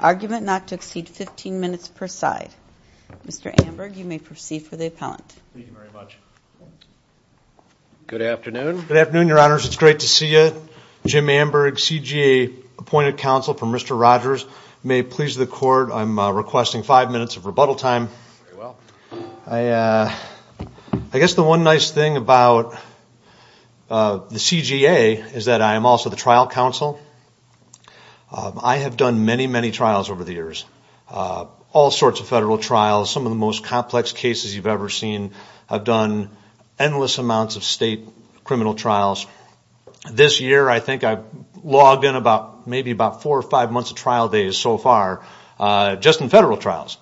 Argument not to exceed 15 minutes per side. Mr. Amberg, you may proceed for the appellant. Thank you very much. Good afternoon. Good afternoon, your honors. It's great to see you. Jim Amberg, CGA appointed counsel for Mr. Rogers. You may please the court. I'm requesting five minutes of rebuttal time. I guess the one nice thing about the CGA is that I am also the trial counsel. I have done many, many trials over the years, all sorts of federal trials. Some of the most complex cases you've ever seen. I've done endless amounts of state criminal trials. This year, I think I've logged in about maybe about four or five months of trial days so far, just in federal trials.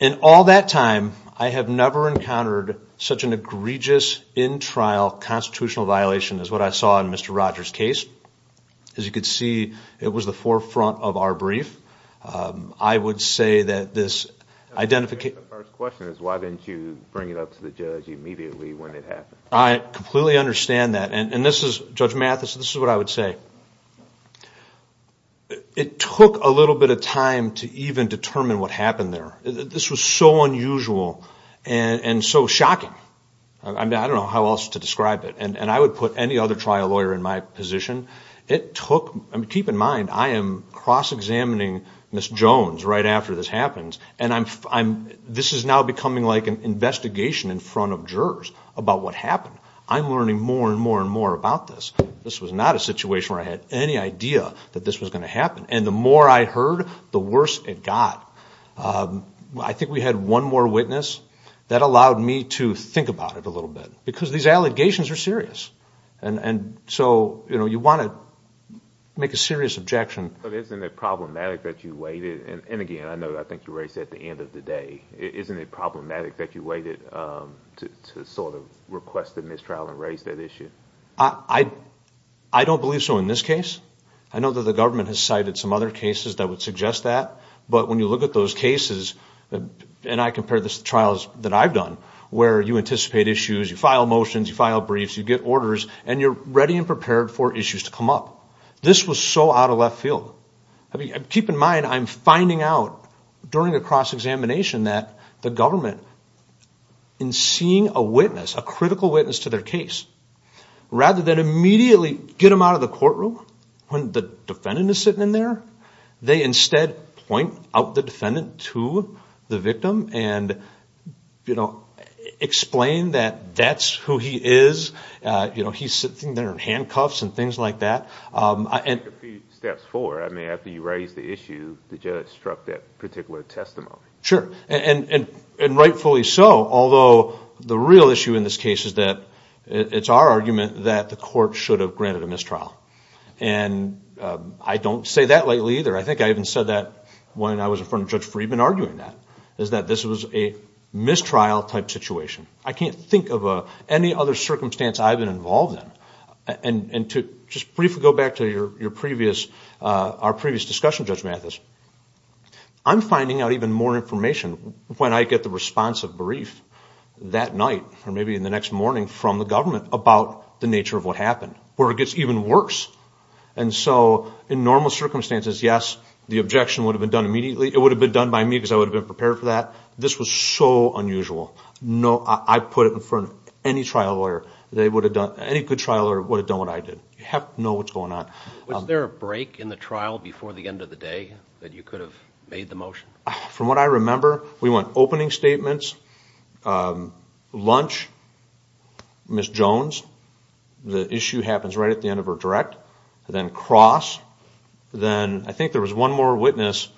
In all that time, I have never encountered such an egregious in-trial constitutional violation as what I saw in Mr. Rogers' case. As you can see, it was the forefront of our brief. I would say that this identification... The first question is why didn't you bring it up to the judge immediately when it happened? I completely understand that. Judge Mathis, this is what I would say. It took a little bit of time to even determine what happened there. This was so unusual and so shocking. I don't know how else to describe it. I would put any other trial lawyer in my position. Keep in mind, I am cross-examining Ms. Jones right after this happens. This is now becoming like an investigation in front of jurors about what happened. I'm learning more and more and more about this. This was not a situation where I had any idea that this was going to happen. The more I heard, the worse it got. I think we had one more witness. That allowed me to think about it a little bit. These allegations are serious. You want to make a serious objection. Isn't it problematic that you waited? Again, I think you raised it at the end of the day. Isn't it problematic that you waited to request a mistrial and raise that issue? I don't believe so in this case. I know that the government has cited some other cases that would suggest that. But when you look at those cases, and I compare this to trials that I've done, where you anticipate issues, you file motions, you file briefs, you get orders, and you're ready and prepared for issues to come up. This was so out of left field. Keep in mind, I'm finding out during a cross-examination that the government, in seeing a witness, a critical witness to their case, rather than immediately get them out of the courtroom when the defendant is sitting in there, they instead point out the defendant to the victim and explain that that's who he is. He's sitting there in handcuffs and things like that. You took a few steps forward. I mean, after you raised the issue, the judge struck that particular testimony. Sure. And rightfully so, although the real issue in this case is that it's our argument that the court should have granted a mistrial. And I don't say that lightly either. I think I even said that when I was in front of Judge Friedman arguing that, is that this was a mistrial-type situation. I can't think of any other circumstance I've been involved in. And to just briefly go back to our previous discussion, Judge Mathis, I'm finding out even more information when I get the responsive brief that night or maybe in the next morning from the government about the nature of what happened, where it gets even worse. And so in normal circumstances, yes, the objection would have been done immediately. It would have been done by me because I would have been prepared for that. This was so unusual. I put it in front of any trial lawyer. Any good trial lawyer would have done what I did. You have to know what's going on. Was there a break in the trial before the end of the day that you could have made the motion? From what I remember, we went opening statements, lunch, Ms. Jones. The issue happens right at the end of her direct, then cross, then I think there was one more witness,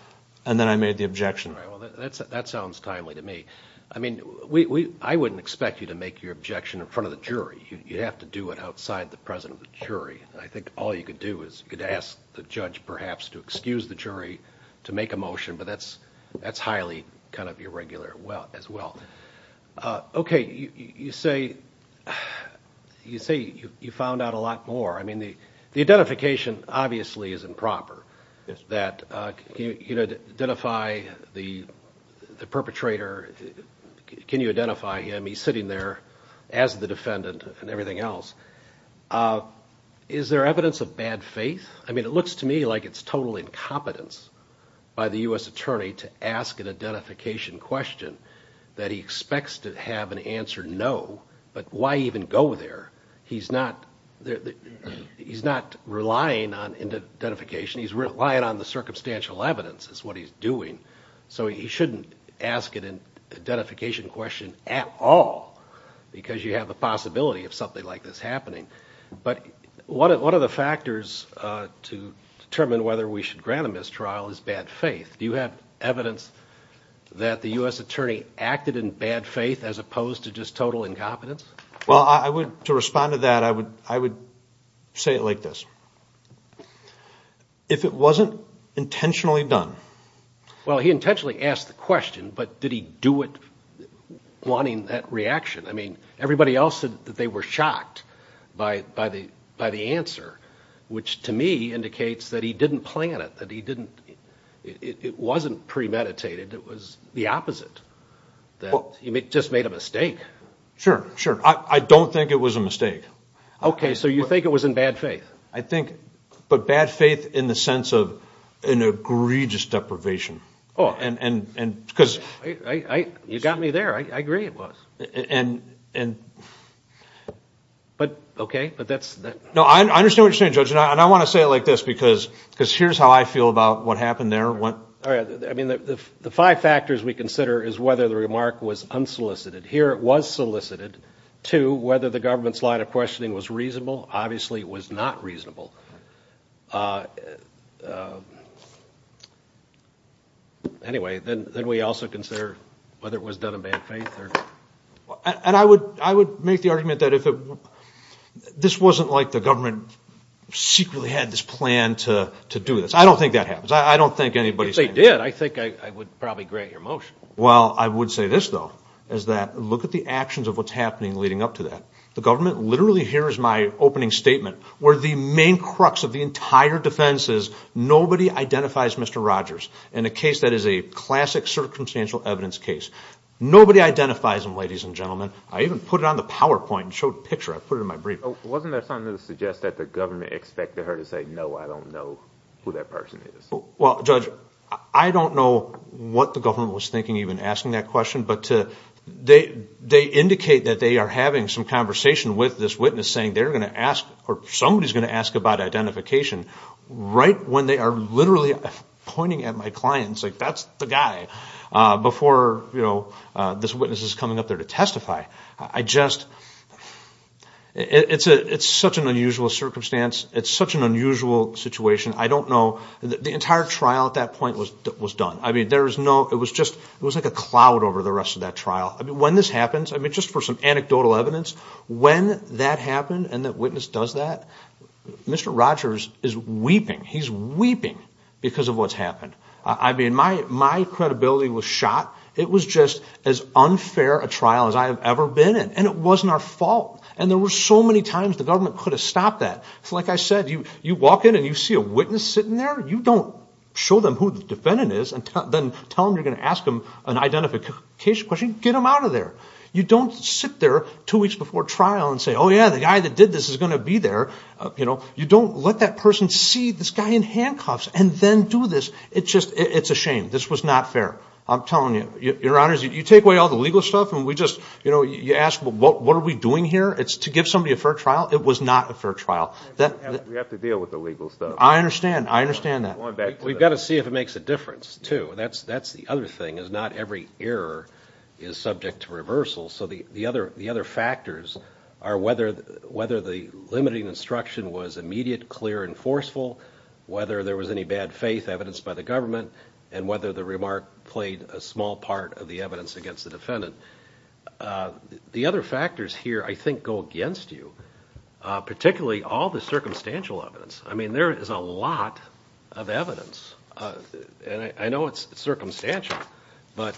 and then I made the objection. Well, that sounds timely to me. I mean, I wouldn't expect you to make your objection in front of the jury. You'd have to do it outside the presence of the jury. I think all you could do is you could ask the judge perhaps to excuse the jury to make a motion, but that's highly kind of irregular as well. Okay, you say you found out a lot more. I mean, the identification obviously is improper. Can you identify the perpetrator? Can you identify him? He's sitting there as the defendant and everything else. Is there evidence of bad faith? I mean, it looks to me like it's total incompetence by the U.S. Attorney to ask an identification question that he expects to have an answer no, but why even go there? He's not relying on identification. He's relying on the circumstantial evidence is what he's doing, so he shouldn't ask an identification question at all because you have a possibility of something like this happening. But one of the factors to determine whether we should grant a mistrial is bad faith. Do you have evidence that the U.S. Attorney acted in bad faith as opposed to just total incompetence? Well, to respond to that, I would say it like this. If it wasn't intentionally done... Well, he intentionally asked the question, but did he do it wanting that reaction? I mean, everybody else said that they were shocked by the answer, which to me indicates that he didn't plan it, that it wasn't premeditated, it was the opposite, that he just made a mistake. Sure, sure. I don't think it was a mistake. Okay, so you think it was in bad faith? I think, but bad faith in the sense of an egregious deprivation. And because... You got me there. I agree it was. And... But, okay, but that's... No, I understand what you're saying, Judge, and I want to say it like this because here's how I feel about what happened there. I mean, the five factors we consider is whether the remark was unsolicited. Here it was solicited. Two, whether the government's line of questioning was reasonable. Obviously, it was not reasonable. Anyway, then we also consider whether it was done in bad faith. And I would make the argument that this wasn't like the government secretly had this plan to do this. I don't think that happens. I don't think anybody... If they did, I think I would probably grant your motion. Well, I would say this, though, is that look at the actions of what's happening leading up to that. The government literally hears my opening statement where the main crux of the entire defense is nobody identifies Mr. Rogers. In a case that is a classic circumstantial evidence case, nobody identifies him, ladies and gentlemen. I even put it on the PowerPoint and showed a picture. I put it in my brief. Wasn't there something to suggest that the government expected her to say, no, I don't know who that person is? Well, Judge, I don't know what the government was thinking even asking that question, but they indicate that they are having some conversation with this witness saying they're going to ask or somebody's going to ask about identification right when they are literally pointing at my clients, like that's the guy, before this witness is coming up there to testify. I just... It's such an unusual circumstance. It's such an unusual situation. I don't know. The entire trial at that point was done. I mean, there was no... It was just like a cloud over the rest of that trial. When this happens, I mean, just for some anecdotal evidence, when that happened and that witness does that, Mr. Rogers is weeping. He's weeping because of what's happened. I mean, my credibility was shot. It was just as unfair a trial as I have ever been in, and it wasn't our fault. And there were so many times the government could have stopped that. Like I said, you walk in and you see a witness sitting there. You don't show them who the defendant is and then tell them you're going to ask them an identification question. Get them out of there. You don't sit there two weeks before trial and say, oh, yeah, the guy that did this is going to be there. You don't let that person see this guy in handcuffs and then do this. It's a shame. This was not fair. I'm telling you. Your Honors, you take away all the legal stuff and we just... You ask, well, what are we doing here? To give somebody a fair trial, it was not a fair trial. We have to deal with the legal stuff. I understand. I understand that. We've got to see if it makes a difference, too. That's the other thing, is not every error is subject to reversal. So the other factors are whether the limiting instruction was immediate, clear, and forceful, whether there was any bad faith evidenced by the government, and whether the remark played a small part of the evidence against the defendant. The other factors here, I think, go against you, particularly all the circumstantial evidence. I mean, there is a lot of evidence. And I know it's circumstantial, but,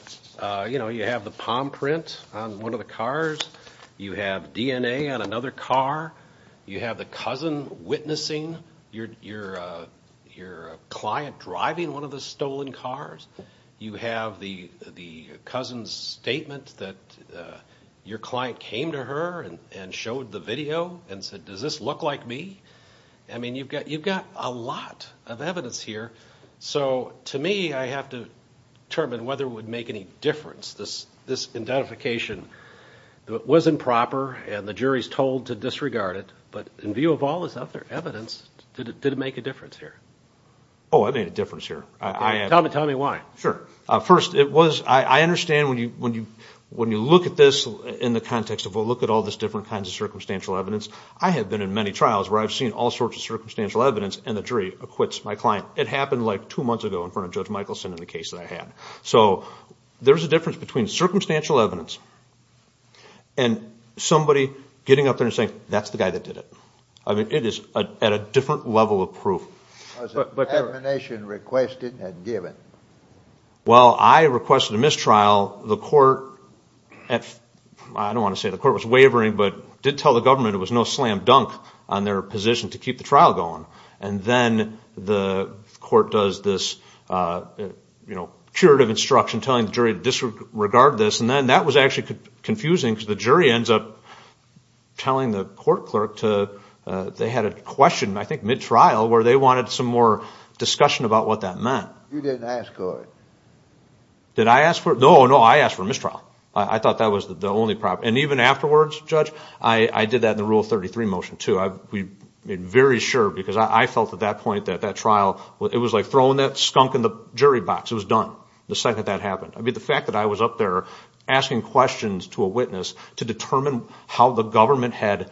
you know, you have the palm print on one of the cars. You have DNA on another car. You have the cousin witnessing your client driving one of the stolen cars. You have the cousin's statement that your client came to her and showed the video and said, does this look like me? I mean, you've got a lot of evidence here. So to me, I have to determine whether it would make any difference. This identification was improper, and the jury is told to disregard it. But in view of all this other evidence, did it make a difference here? Oh, it made a difference here. Tell me why. First, I understand when you look at this in the context of, well, look at all these different kinds of circumstantial evidence. I have been in many trials where I've seen all sorts of circumstantial evidence, and the jury acquits my client. It happened like two months ago in front of Judge Michelson in the case that I had. So there's a difference between circumstantial evidence and somebody getting up there and saying, that's the guy that did it. I mean, it is at a different level of proof. Was an admonition requested and given? Well, I requested a mistrial. The court at, I don't want to say the court was wavering, but did tell the government it was no slam dunk on their position to keep the trial going. And then the court does this curative instruction telling the jury to disregard this. And then that was actually confusing because the jury ends up telling the court clerk to, they had a question I think mid-trial where they wanted some more discussion about what that meant. You didn't ask for it. Did I ask for it? No, no, I asked for a mistrial. I thought that was the only problem. And even afterwards, Judge, I did that in the Rule 33 motion too. I'm very sure because I felt at that point that that trial, it was like throwing that skunk in the jury box. It was done the second that happened. I mean, the fact that I was up there asking questions to a witness to determine how the government had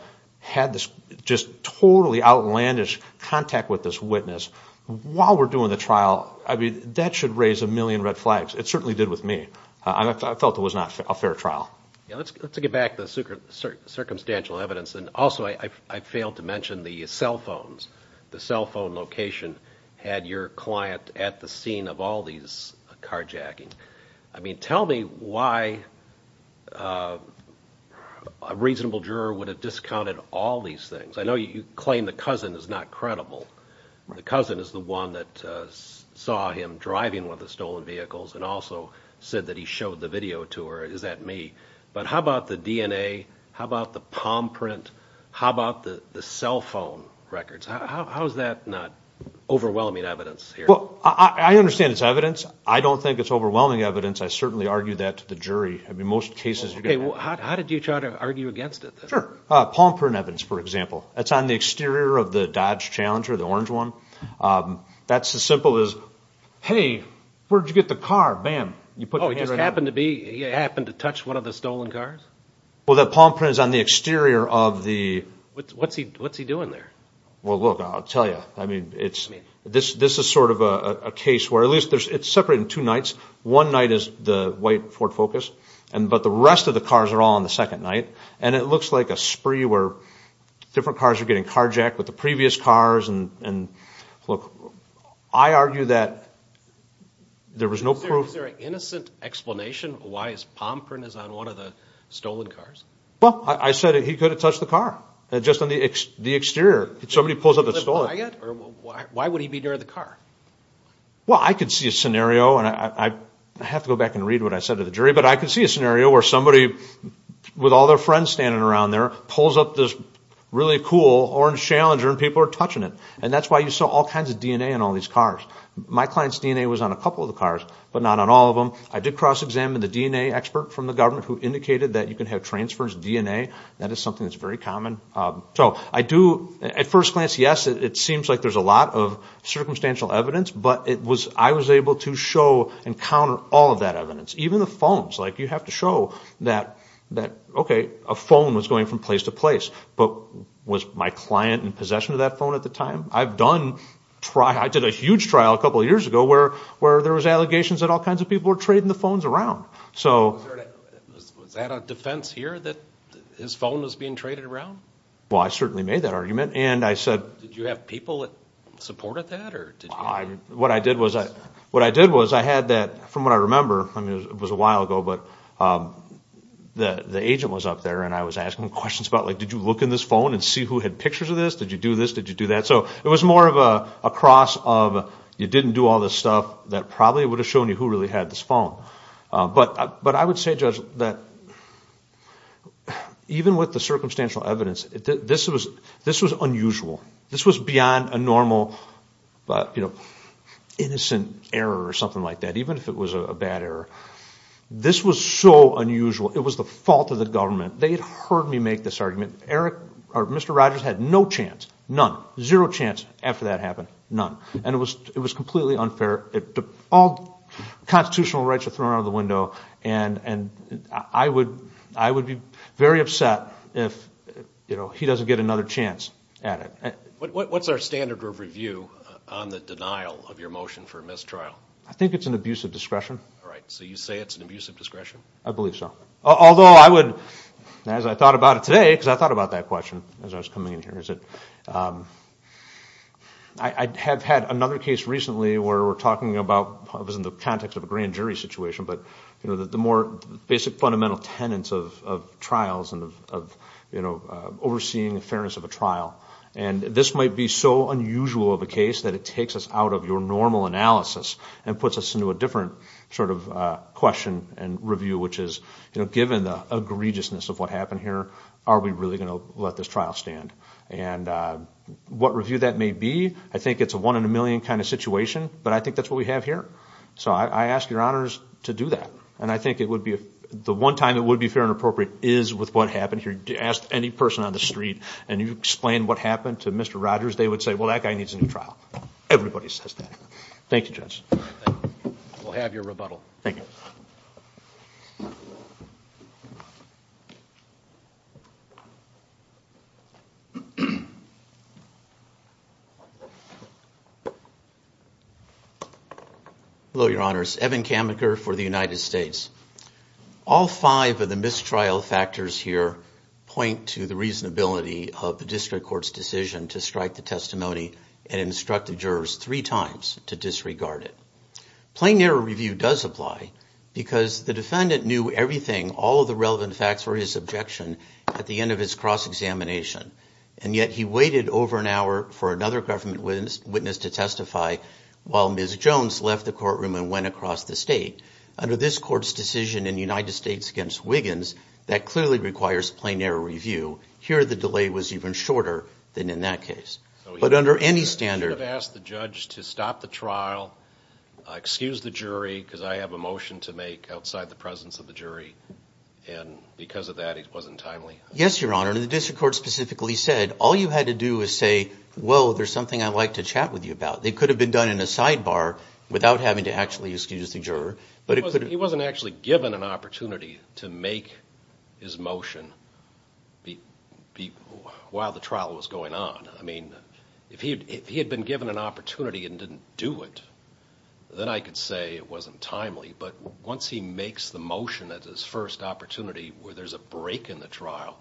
this just totally outlandish contact with this witness while we're doing the trial, I mean, that should raise a million red flags. It certainly did with me. I felt it was not a fair trial. Let's get back to the circumstantial evidence. And also I failed to mention the cell phones. The cell phone location had your client at the scene of all these carjackings. I mean, tell me why a reasonable juror would have discounted all these things. I know you claim the cousin is not credible. The cousin is the one that saw him driving one of the stolen vehicles and also said that he showed the video to her. Is that me? But how about the DNA? How about the palm print? How about the cell phone records? How is that not overwhelming evidence here? Well, I understand it's evidence. I don't think it's overwhelming evidence. I certainly argue that to the jury. How did you try to argue against it? Palm print evidence, for example. That's on the exterior of the Dodge Challenger, the orange one. That's as simple as, hey, where did you get the car? Bam, you put your hand right on it. Oh, he just happened to touch one of the stolen cars? Well, the palm print is on the exterior of the... What's he doing there? Well, look, I'll tell you. I mean, this is sort of a case where at least it's separate in two nights. One night is the white Ford Focus, but the rest of the cars are all on the second night. And it looks like a spree where different cars are getting carjacked with the previous cars. And, look, I argue that there was no proof. Is there an innocent explanation why his palm print is on one of the stolen cars? Well, I said he could have touched the car just on the exterior. If somebody pulls up and stole it... Why would he be near the car? Well, I could see a scenario, and I have to go back and read what I said to the jury, but I could see a scenario where somebody with all their friends standing around there pulls up this really cool orange Challenger and people are touching it. And that's why you saw all kinds of DNA on all these cars. My client's DNA was on a couple of the cars, but not on all of them. I did cross-examine the DNA expert from the government who indicated that you can have transference DNA. That is something that's very common. At first glance, yes, it seems like there's a lot of circumstantial evidence, but I was able to show and counter all of that evidence, even the phones. You have to show that, okay, a phone was going from place to place, but was my client in possession of that phone at the time? I did a huge trial a couple of years ago where there was allegations that all kinds of people were trading the phones around. Was that a defense here that his phone was being traded around? Well, I certainly made that argument. Did you have people that supported that? What I did was I had that, from what I remember, it was a while ago, but the agent was up there and I was asking him questions about, did you look in this phone and see who had pictures of this? Did you do this? Did you do that? So it was more of a cross of you didn't do all this stuff that probably would have shown you who really had this phone. But I would say, Judge, that even with the circumstantial evidence, this was unusual. This was beyond a normal innocent error or something like that, even if it was a bad error. This was so unusual. It was the fault of the government. They had heard me make this argument. Mr. Rogers had no chance, none, zero chance after that happened, none. And it was completely unfair. All constitutional rights are thrown out of the window, and I would be very upset if he doesn't get another chance at it. What's our standard of review on the denial of your motion for mistrial? I think it's an abuse of discretion. All right, so you say it's an abuse of discretion? I believe so. Although I would, as I thought about it today, because I thought about that question as I was coming in here, is that I have had another case recently where we're talking about, it was in the context of a grand jury situation, but the more basic fundamental tenets of trials and of overseeing the fairness of a trial. And this might be so unusual of a case that it takes us out of your normal analysis and puts us into a different sort of question and review, which is given the egregiousness of what happened here, are we really going to let this trial stand? And what review that may be, I think it's a one in a million kind of situation, but I think that's what we have here. So I ask your honors to do that. And I think the one time it would be fair and appropriate is with what happened here. You ask any person on the street, and you explain what happened to Mr. Rogers, they would say, well, that guy needs a new trial. Everybody says that. Thank you, Judge. We'll have your rebuttal. Thank you. Hello, your honors. Evan Kammaker for the United States. All five of the mistrial factors here point to the reasonability of the district court's decision to strike the testimony and instruct the jurors three times to disregard it. Plain error review does apply because the defendant knew everything, all of the relevant facts for his objection, at the end of his cross-examination. And yet he waited over an hour for another government witness to testify while Ms. Jones left the courtroom and went across the state. Under this court's decision in the United States against Wiggins, that clearly requires plain error review. Here the delay was even shorter than in that case. But under any standard... You should have asked the judge to stop the trial, excuse the jury, because I have a motion to make outside the presence of the jury. And because of that, it wasn't timely. Yes, your honor. The district court specifically said, all you had to do was say, well, there's something I'd like to chat with you about. It could have been done in a sidebar without having to actually excuse the juror. He wasn't actually given an opportunity to make his motion while the trial was going on. I mean, if he had been given an opportunity and didn't do it, then I could say it wasn't timely. But once he makes the motion at his first opportunity where there's a break in the trial,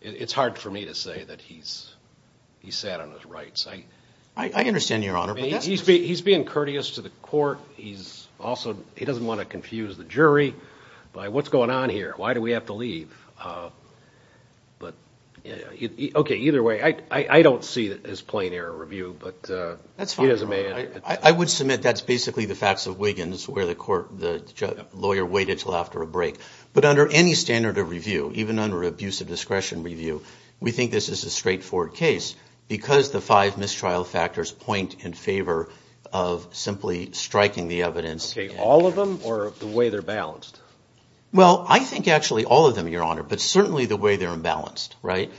it's hard for me to say that he sat on his rights. I understand, your honor. He's being courteous to the court. He doesn't want to confuse the jury by what's going on here, why do we have to leave. Okay, either way, I don't see his plain error review. That's fine. I would submit that's basically the facts of Wiggins where the lawyer waited until after a break. But under any standard of review, even under abusive discretion review, we think this is a straightforward case because the five mistrial factors point in favor of simply striking the evidence. Okay, all of them or the way they're balanced? Well, I think actually all of them, your honor, but certainly the way they're imbalanced, right?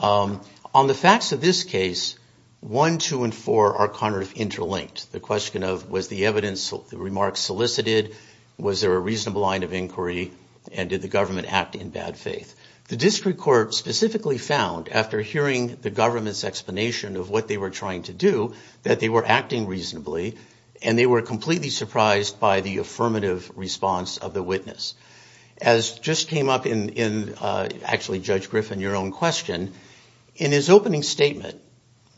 On the facts of this case, one, two, and four are kind of interlinked. The question of was the evidence, the remarks solicited, was there a reasonable line of inquiry, and did the government act in bad faith? The district court specifically found, after hearing the government's explanation of what they were trying to do, that they were acting reasonably and they were completely surprised by the affirmative response of the witness. As just came up in, actually, Judge Griffin, your own question, in his opening statement,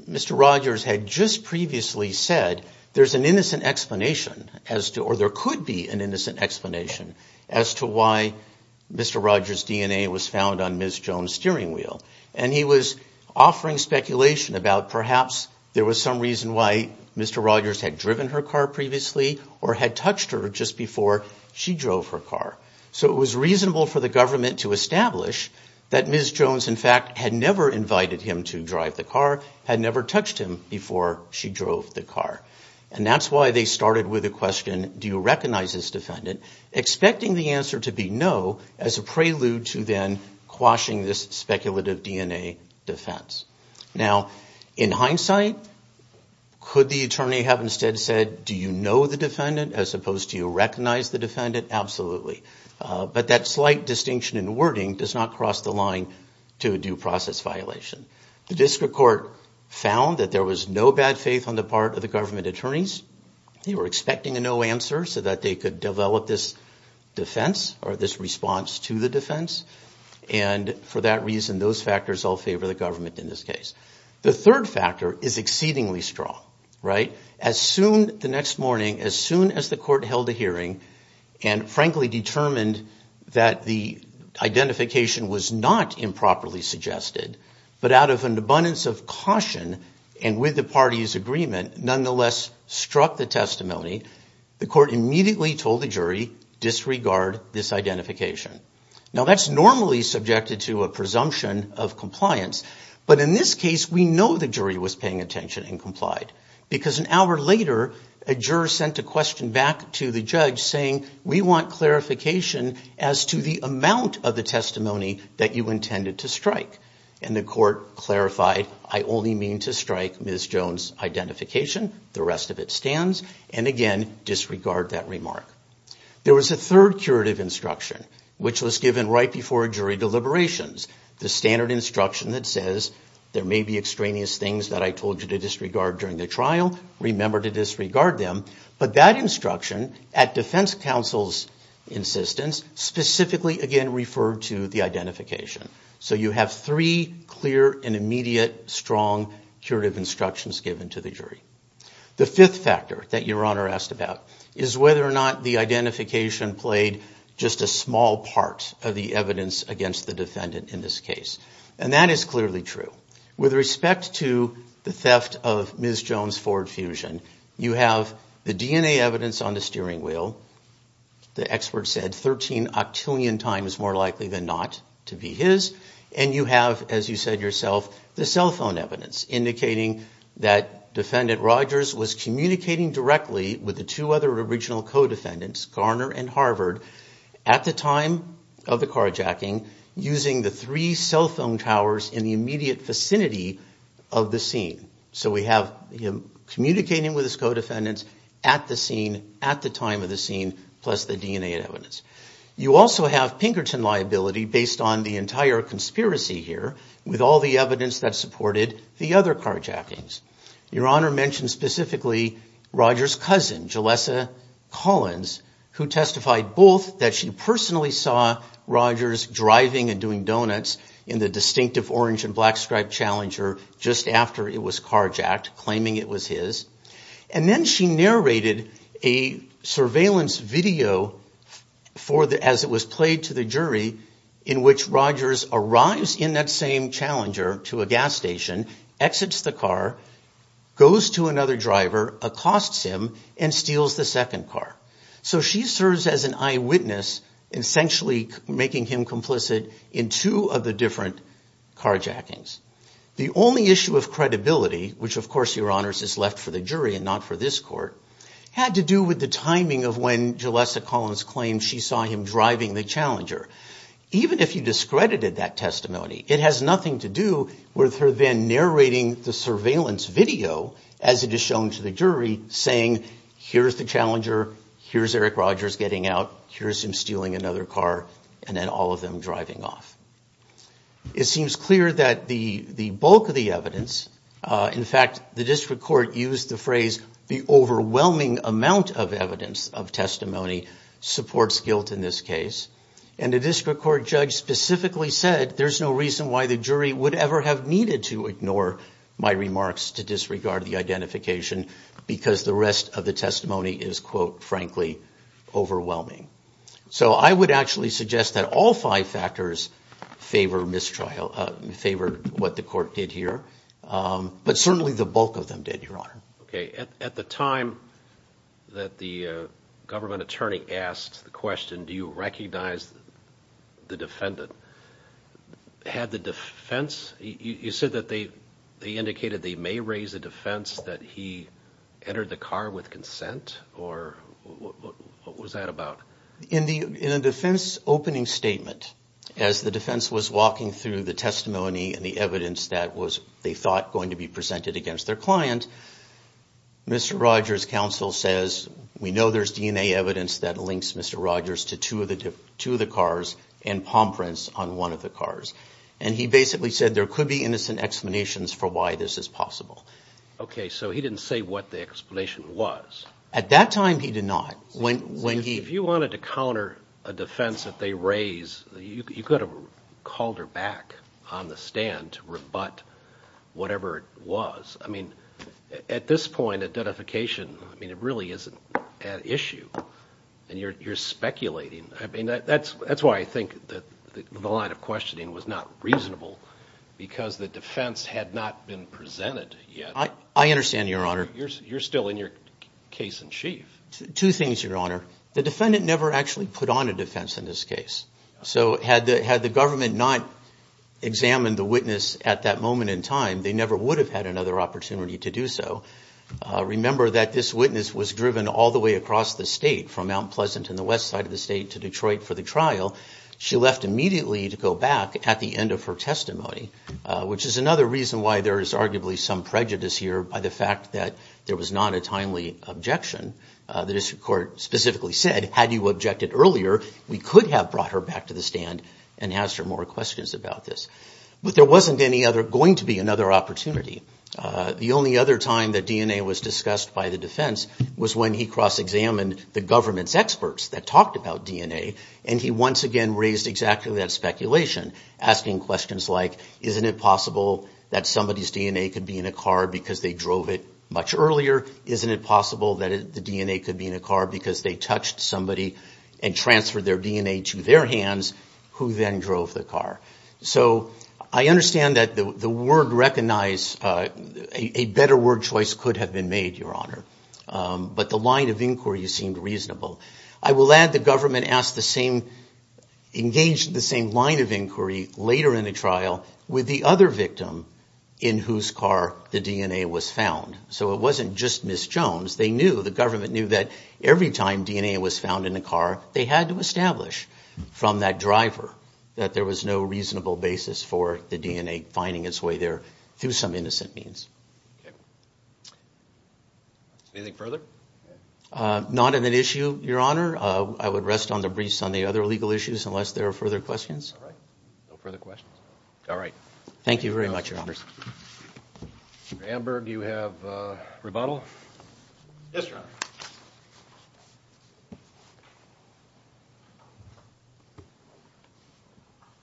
Mr. Rogers had just previously said there's an innocent explanation, or there could be an innocent explanation, as to why Mr. Rogers' DNA was found on Ms. Jones' steering wheel. And he was offering speculation about perhaps there was some reason why Mr. Rogers had driven her car previously or had touched her just before she drove her car. So it was reasonable for the government to establish that Ms. Jones, in fact, had never invited him to drive the car, had never touched him before she drove the car. And that's why they started with the question, do you recognize this defendant? Expecting the answer to be no as a prelude to then quashing this speculative DNA defense. Now, in hindsight, could the attorney have instead said, do you know the defendant as opposed to do you recognize the defendant? Absolutely. But that slight distinction in wording does not cross the line to a due process violation. The district court found that there was no bad faith on the part of the government attorneys. They were expecting a no answer so that they could develop this defense or this response to the defense. And for that reason, those factors all favor the government in this case. The third factor is exceedingly strong, right? As soon, the next morning, as soon as the court held a hearing and frankly determined that the identification was not improperly suggested, but out of an abundance of caution and with the party's agreement, nonetheless struck the testimony, the court immediately told the jury, disregard this identification. Now, that's normally subjected to a presumption of compliance. But in this case, we know the jury was paying attention and complied because an hour later, a juror sent a question back to the judge saying, we want clarification as to the amount of the testimony that you intended to strike. And the court clarified, I only mean to strike Ms. Jones' identification. The rest of it stands. And again, disregard that remark. There was a third curative instruction which was given right before jury deliberations. The standard instruction that says, there may be extraneous things that I told you to disregard during the trial. Remember to disregard them. But that instruction, at defense counsel's insistence, specifically again referred to the identification. So you have three clear and immediate, strong curative instructions given to the jury. The fifth factor that Your Honor asked about is whether or not the identification played just a small part of the evidence against the defendant in this case. And that is clearly true. With respect to the theft of Ms. Jones' Ford Fusion, you have the DNA evidence on the steering wheel. The expert said 13 octillion times more likely than not to be his. And you have, as you said yourself, the cell phone evidence, indicating that Defendant Rogers was communicating directly with the two other original co-defendants, Garner and Harvard, at the time of the carjacking, using the three cell phone towers in the immediate vicinity of the scene. So we have him communicating with his co-defendants at the scene, at the time of the scene, plus the DNA evidence. You also have Pinkerton liability, based on the entire conspiracy here, with all the evidence that supported the other carjackings. Your Honor mentioned specifically Rogers' cousin, Jalessa Collins, who testified both that she personally saw Rogers driving and doing donuts in the distinctive orange and black striped Challenger just after it was carjacked, claiming it was his. And then she narrated a surveillance video as it was played to the jury, in which Rogers arrives in that same Challenger to a gas station, exits the car, goes to another driver, accosts him, and steals the second car. So she serves as an eyewitness, essentially making him complicit in two of the different carjackings. The only issue of credibility, which of course, Your Honors, is left for the jury and not for this court, had to do with the timing of when Jalessa Collins claimed she saw him driving the Challenger. Even if you discredited that testimony, it has nothing to do with her then narrating the surveillance video, as it is shown to the jury, saying, here's the Challenger, here's Eric Rogers getting out, here's him stealing another car, and then all of them driving off. It seems clear that the bulk of the evidence, in fact, the district court used the phrase, the overwhelming amount of evidence of testimony, supports guilt in this case. And the district court judge specifically said, there's no reason why the jury would ever have needed to ignore my remarks to disregard the identification, because the rest of the testimony is, quote, frankly, overwhelming. So I would actually suggest that all five factors favor what the court did here, but certainly the bulk of them did, Your Honor. Okay, at the time that the government attorney asked the question, do you recognize the defendant, had the defense, you said that they indicated they may raise the defense that he entered the car with consent, or what was that about? In the defense opening statement, as the defense was walking through the testimony and the evidence that was, they thought, going to be presented against their client, Mr. Rogers' counsel says, we know there's DNA evidence that links Mr. Rogers to two of the cars and palm prints on one of the cars. And he basically said there could be innocent explanations for why this is possible. Okay, so he didn't say what the explanation was. At that time, he did not. If you wanted to counter a defense that they raise, you could have called her back on the stand to rebut whatever it was. I mean, at this point, identification, I mean, it really isn't an issue, and you're speculating. I mean, that's why I think the line of questioning was not reasonable, because the defense had not been presented yet. I understand, Your Honor. You're still in your case in chief. Two things, Your Honor. The defendant never actually put on a defense in this case. So had the government not examined the witness at that moment in time, they never would have had another opportunity to do so. Remember that this witness was driven all the way across the state, from Mount Pleasant in the west side of the state to Detroit for the trial. She left immediately to go back at the end of her testimony, which is another reason why there is arguably some prejudice here by the fact that there was not a timely objection. The district court specifically said, had you objected earlier, we could have brought her back to the stand and asked her more questions about this. But there wasn't going to be another opportunity. The only other time that DNA was discussed by the defense was when he cross-examined the government's experts that talked about DNA, and he once again raised exactly that speculation, asking questions like, isn't it possible that somebody's DNA could be in a car because they drove it much earlier? Isn't it possible that the DNA could be in a car because they touched somebody and transferred their DNA to their hands who then drove the car? So I understand that the word recognize, a better word choice could have been made, Your Honor. But the line of inquiry seemed reasonable. I will add the government asked the same, engaged in the same line of inquiry later in the trial with the other victim in whose car the DNA was found. So it wasn't just Ms. Jones. They knew, the government knew that every time DNA was found in a car, they had to establish from that driver that there was no reasonable basis for the DNA finding its way there through some innocent means. Anything further? Not an issue, Your Honor. I would rest on the briefs on the other legal issues unless there are further questions. No further questions? All right. Thank you very much, Your Honors. Mr. Amberg, do you have a rebuttal? Yes, Your Honor.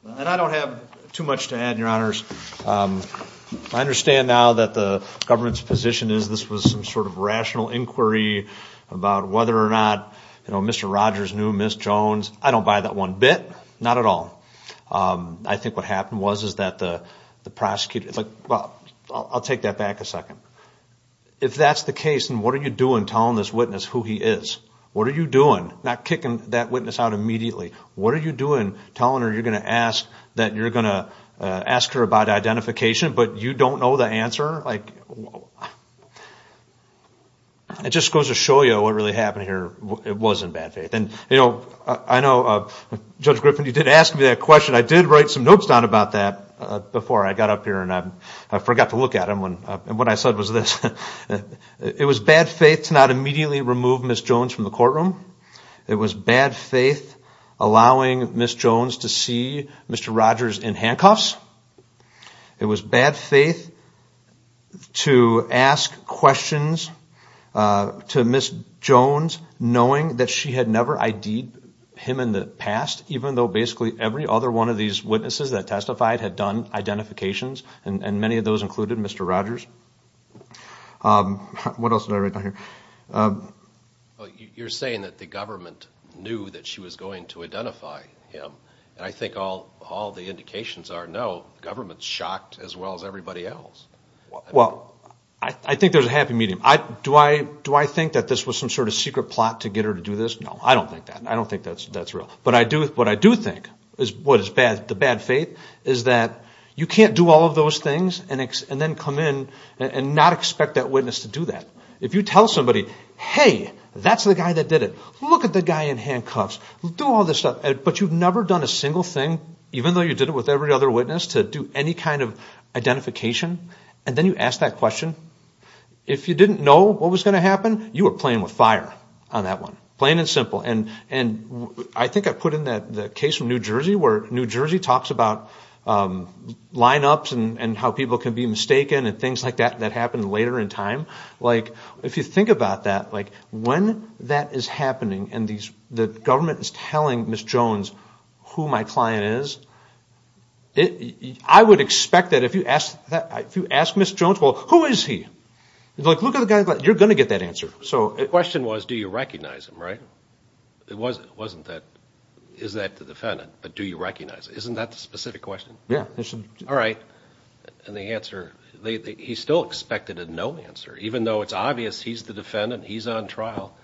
And I don't have too much to add, Your Honors. I understand now that the government's position is this was some sort of rational inquiry about whether or not, you know, Mr. Rogers knew Ms. Jones. I don't buy that one bit, not at all. I think what happened was is that the prosecutor, it's like, well, I'll take that back a second. If that's the case, then what are you doing telling this witness who he is? What are you doing? Not kicking that witness out immediately. What are you doing telling her you're going to ask that you're going to ask her about identification but you don't know the answer? It just goes to show you what really happened here. It was in bad faith. And, you know, I know, Judge Griffin, you did ask me that question. I did write some notes down about that before I got up here and I forgot to look at them. And what I said was this. It was bad faith to not immediately remove Ms. Jones from the courtroom. It was bad faith allowing Ms. Jones to see Mr. Rogers in handcuffs. It was bad faith to ask questions to Ms. Jones knowing that she had never ID'd him in the past even though basically every other one of these witnesses that testified had done identifications, and many of those included Mr. Rogers. What else did I write down here? You're saying that the government knew that she was going to identify him. And I think all the indications are no. The government's shocked as well as everybody else. Well, I think there's a happy medium. Do I think that this was some sort of secret plot to get her to do this? No, I don't think that. I don't think that's real. But what I do think is what is the bad faith is that you can't do all of those things and then come in and not expect that witness to do that. If you tell somebody, hey, that's the guy that did it, look at the guy in handcuffs, do all this stuff, but you've never done a single thing, even though you did it with every other witness, to do any kind of identification, and then you ask that question, if you didn't know what was going to happen, you were playing with fire on that one, plain and simple. And I think I put in the case from New Jersey where New Jersey talks about lineups and how people can be mistaken and things like that that happen later in time. If you think about that, when that is happening and the government is telling Ms. Jones who my client is, I would expect that if you asked Ms. Jones, well, who is he? Look at the guy, you're going to get that answer. The question was, do you recognize him, right? It wasn't, is that the defendant, but do you recognize him? Isn't that the specific question? Yeah. All right. And the answer, he's still expected a no answer, even though it's obvious he's the defendant, he's on trial,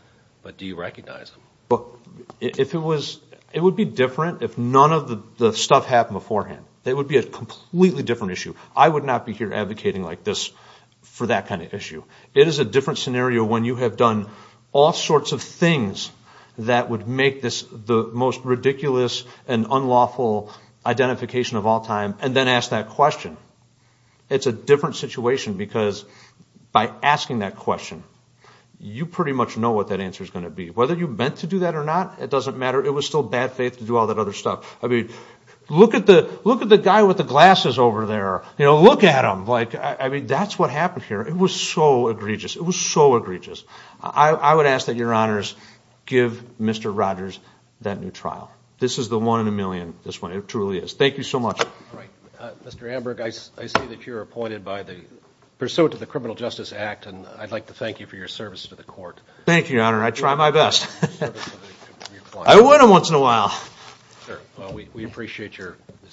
but do you recognize him? It would be different if none of the stuff happened beforehand. That would be a completely different issue. I would not be here advocating like this for that kind of issue. It is a different scenario when you have done all sorts of things that would make this the most ridiculous and unlawful identification of all time, and then ask that question. It's a different situation because by asking that question, you pretty much know what that answer is going to be. Whether you meant to do that or not, it doesn't matter. It was still bad faith to do all that other stuff. I mean, look at the guy with the glasses over there. Look at him. I mean, that's what happened here. It was so egregious. It was so egregious. I would ask that Your Honors give Mr. Rogers that new trial. This is the one in a million, this one. It truly is. Thank you so much. All right. Thank you for your service to the court. Thank you, Your Honor. I try my best. I win them once in a while.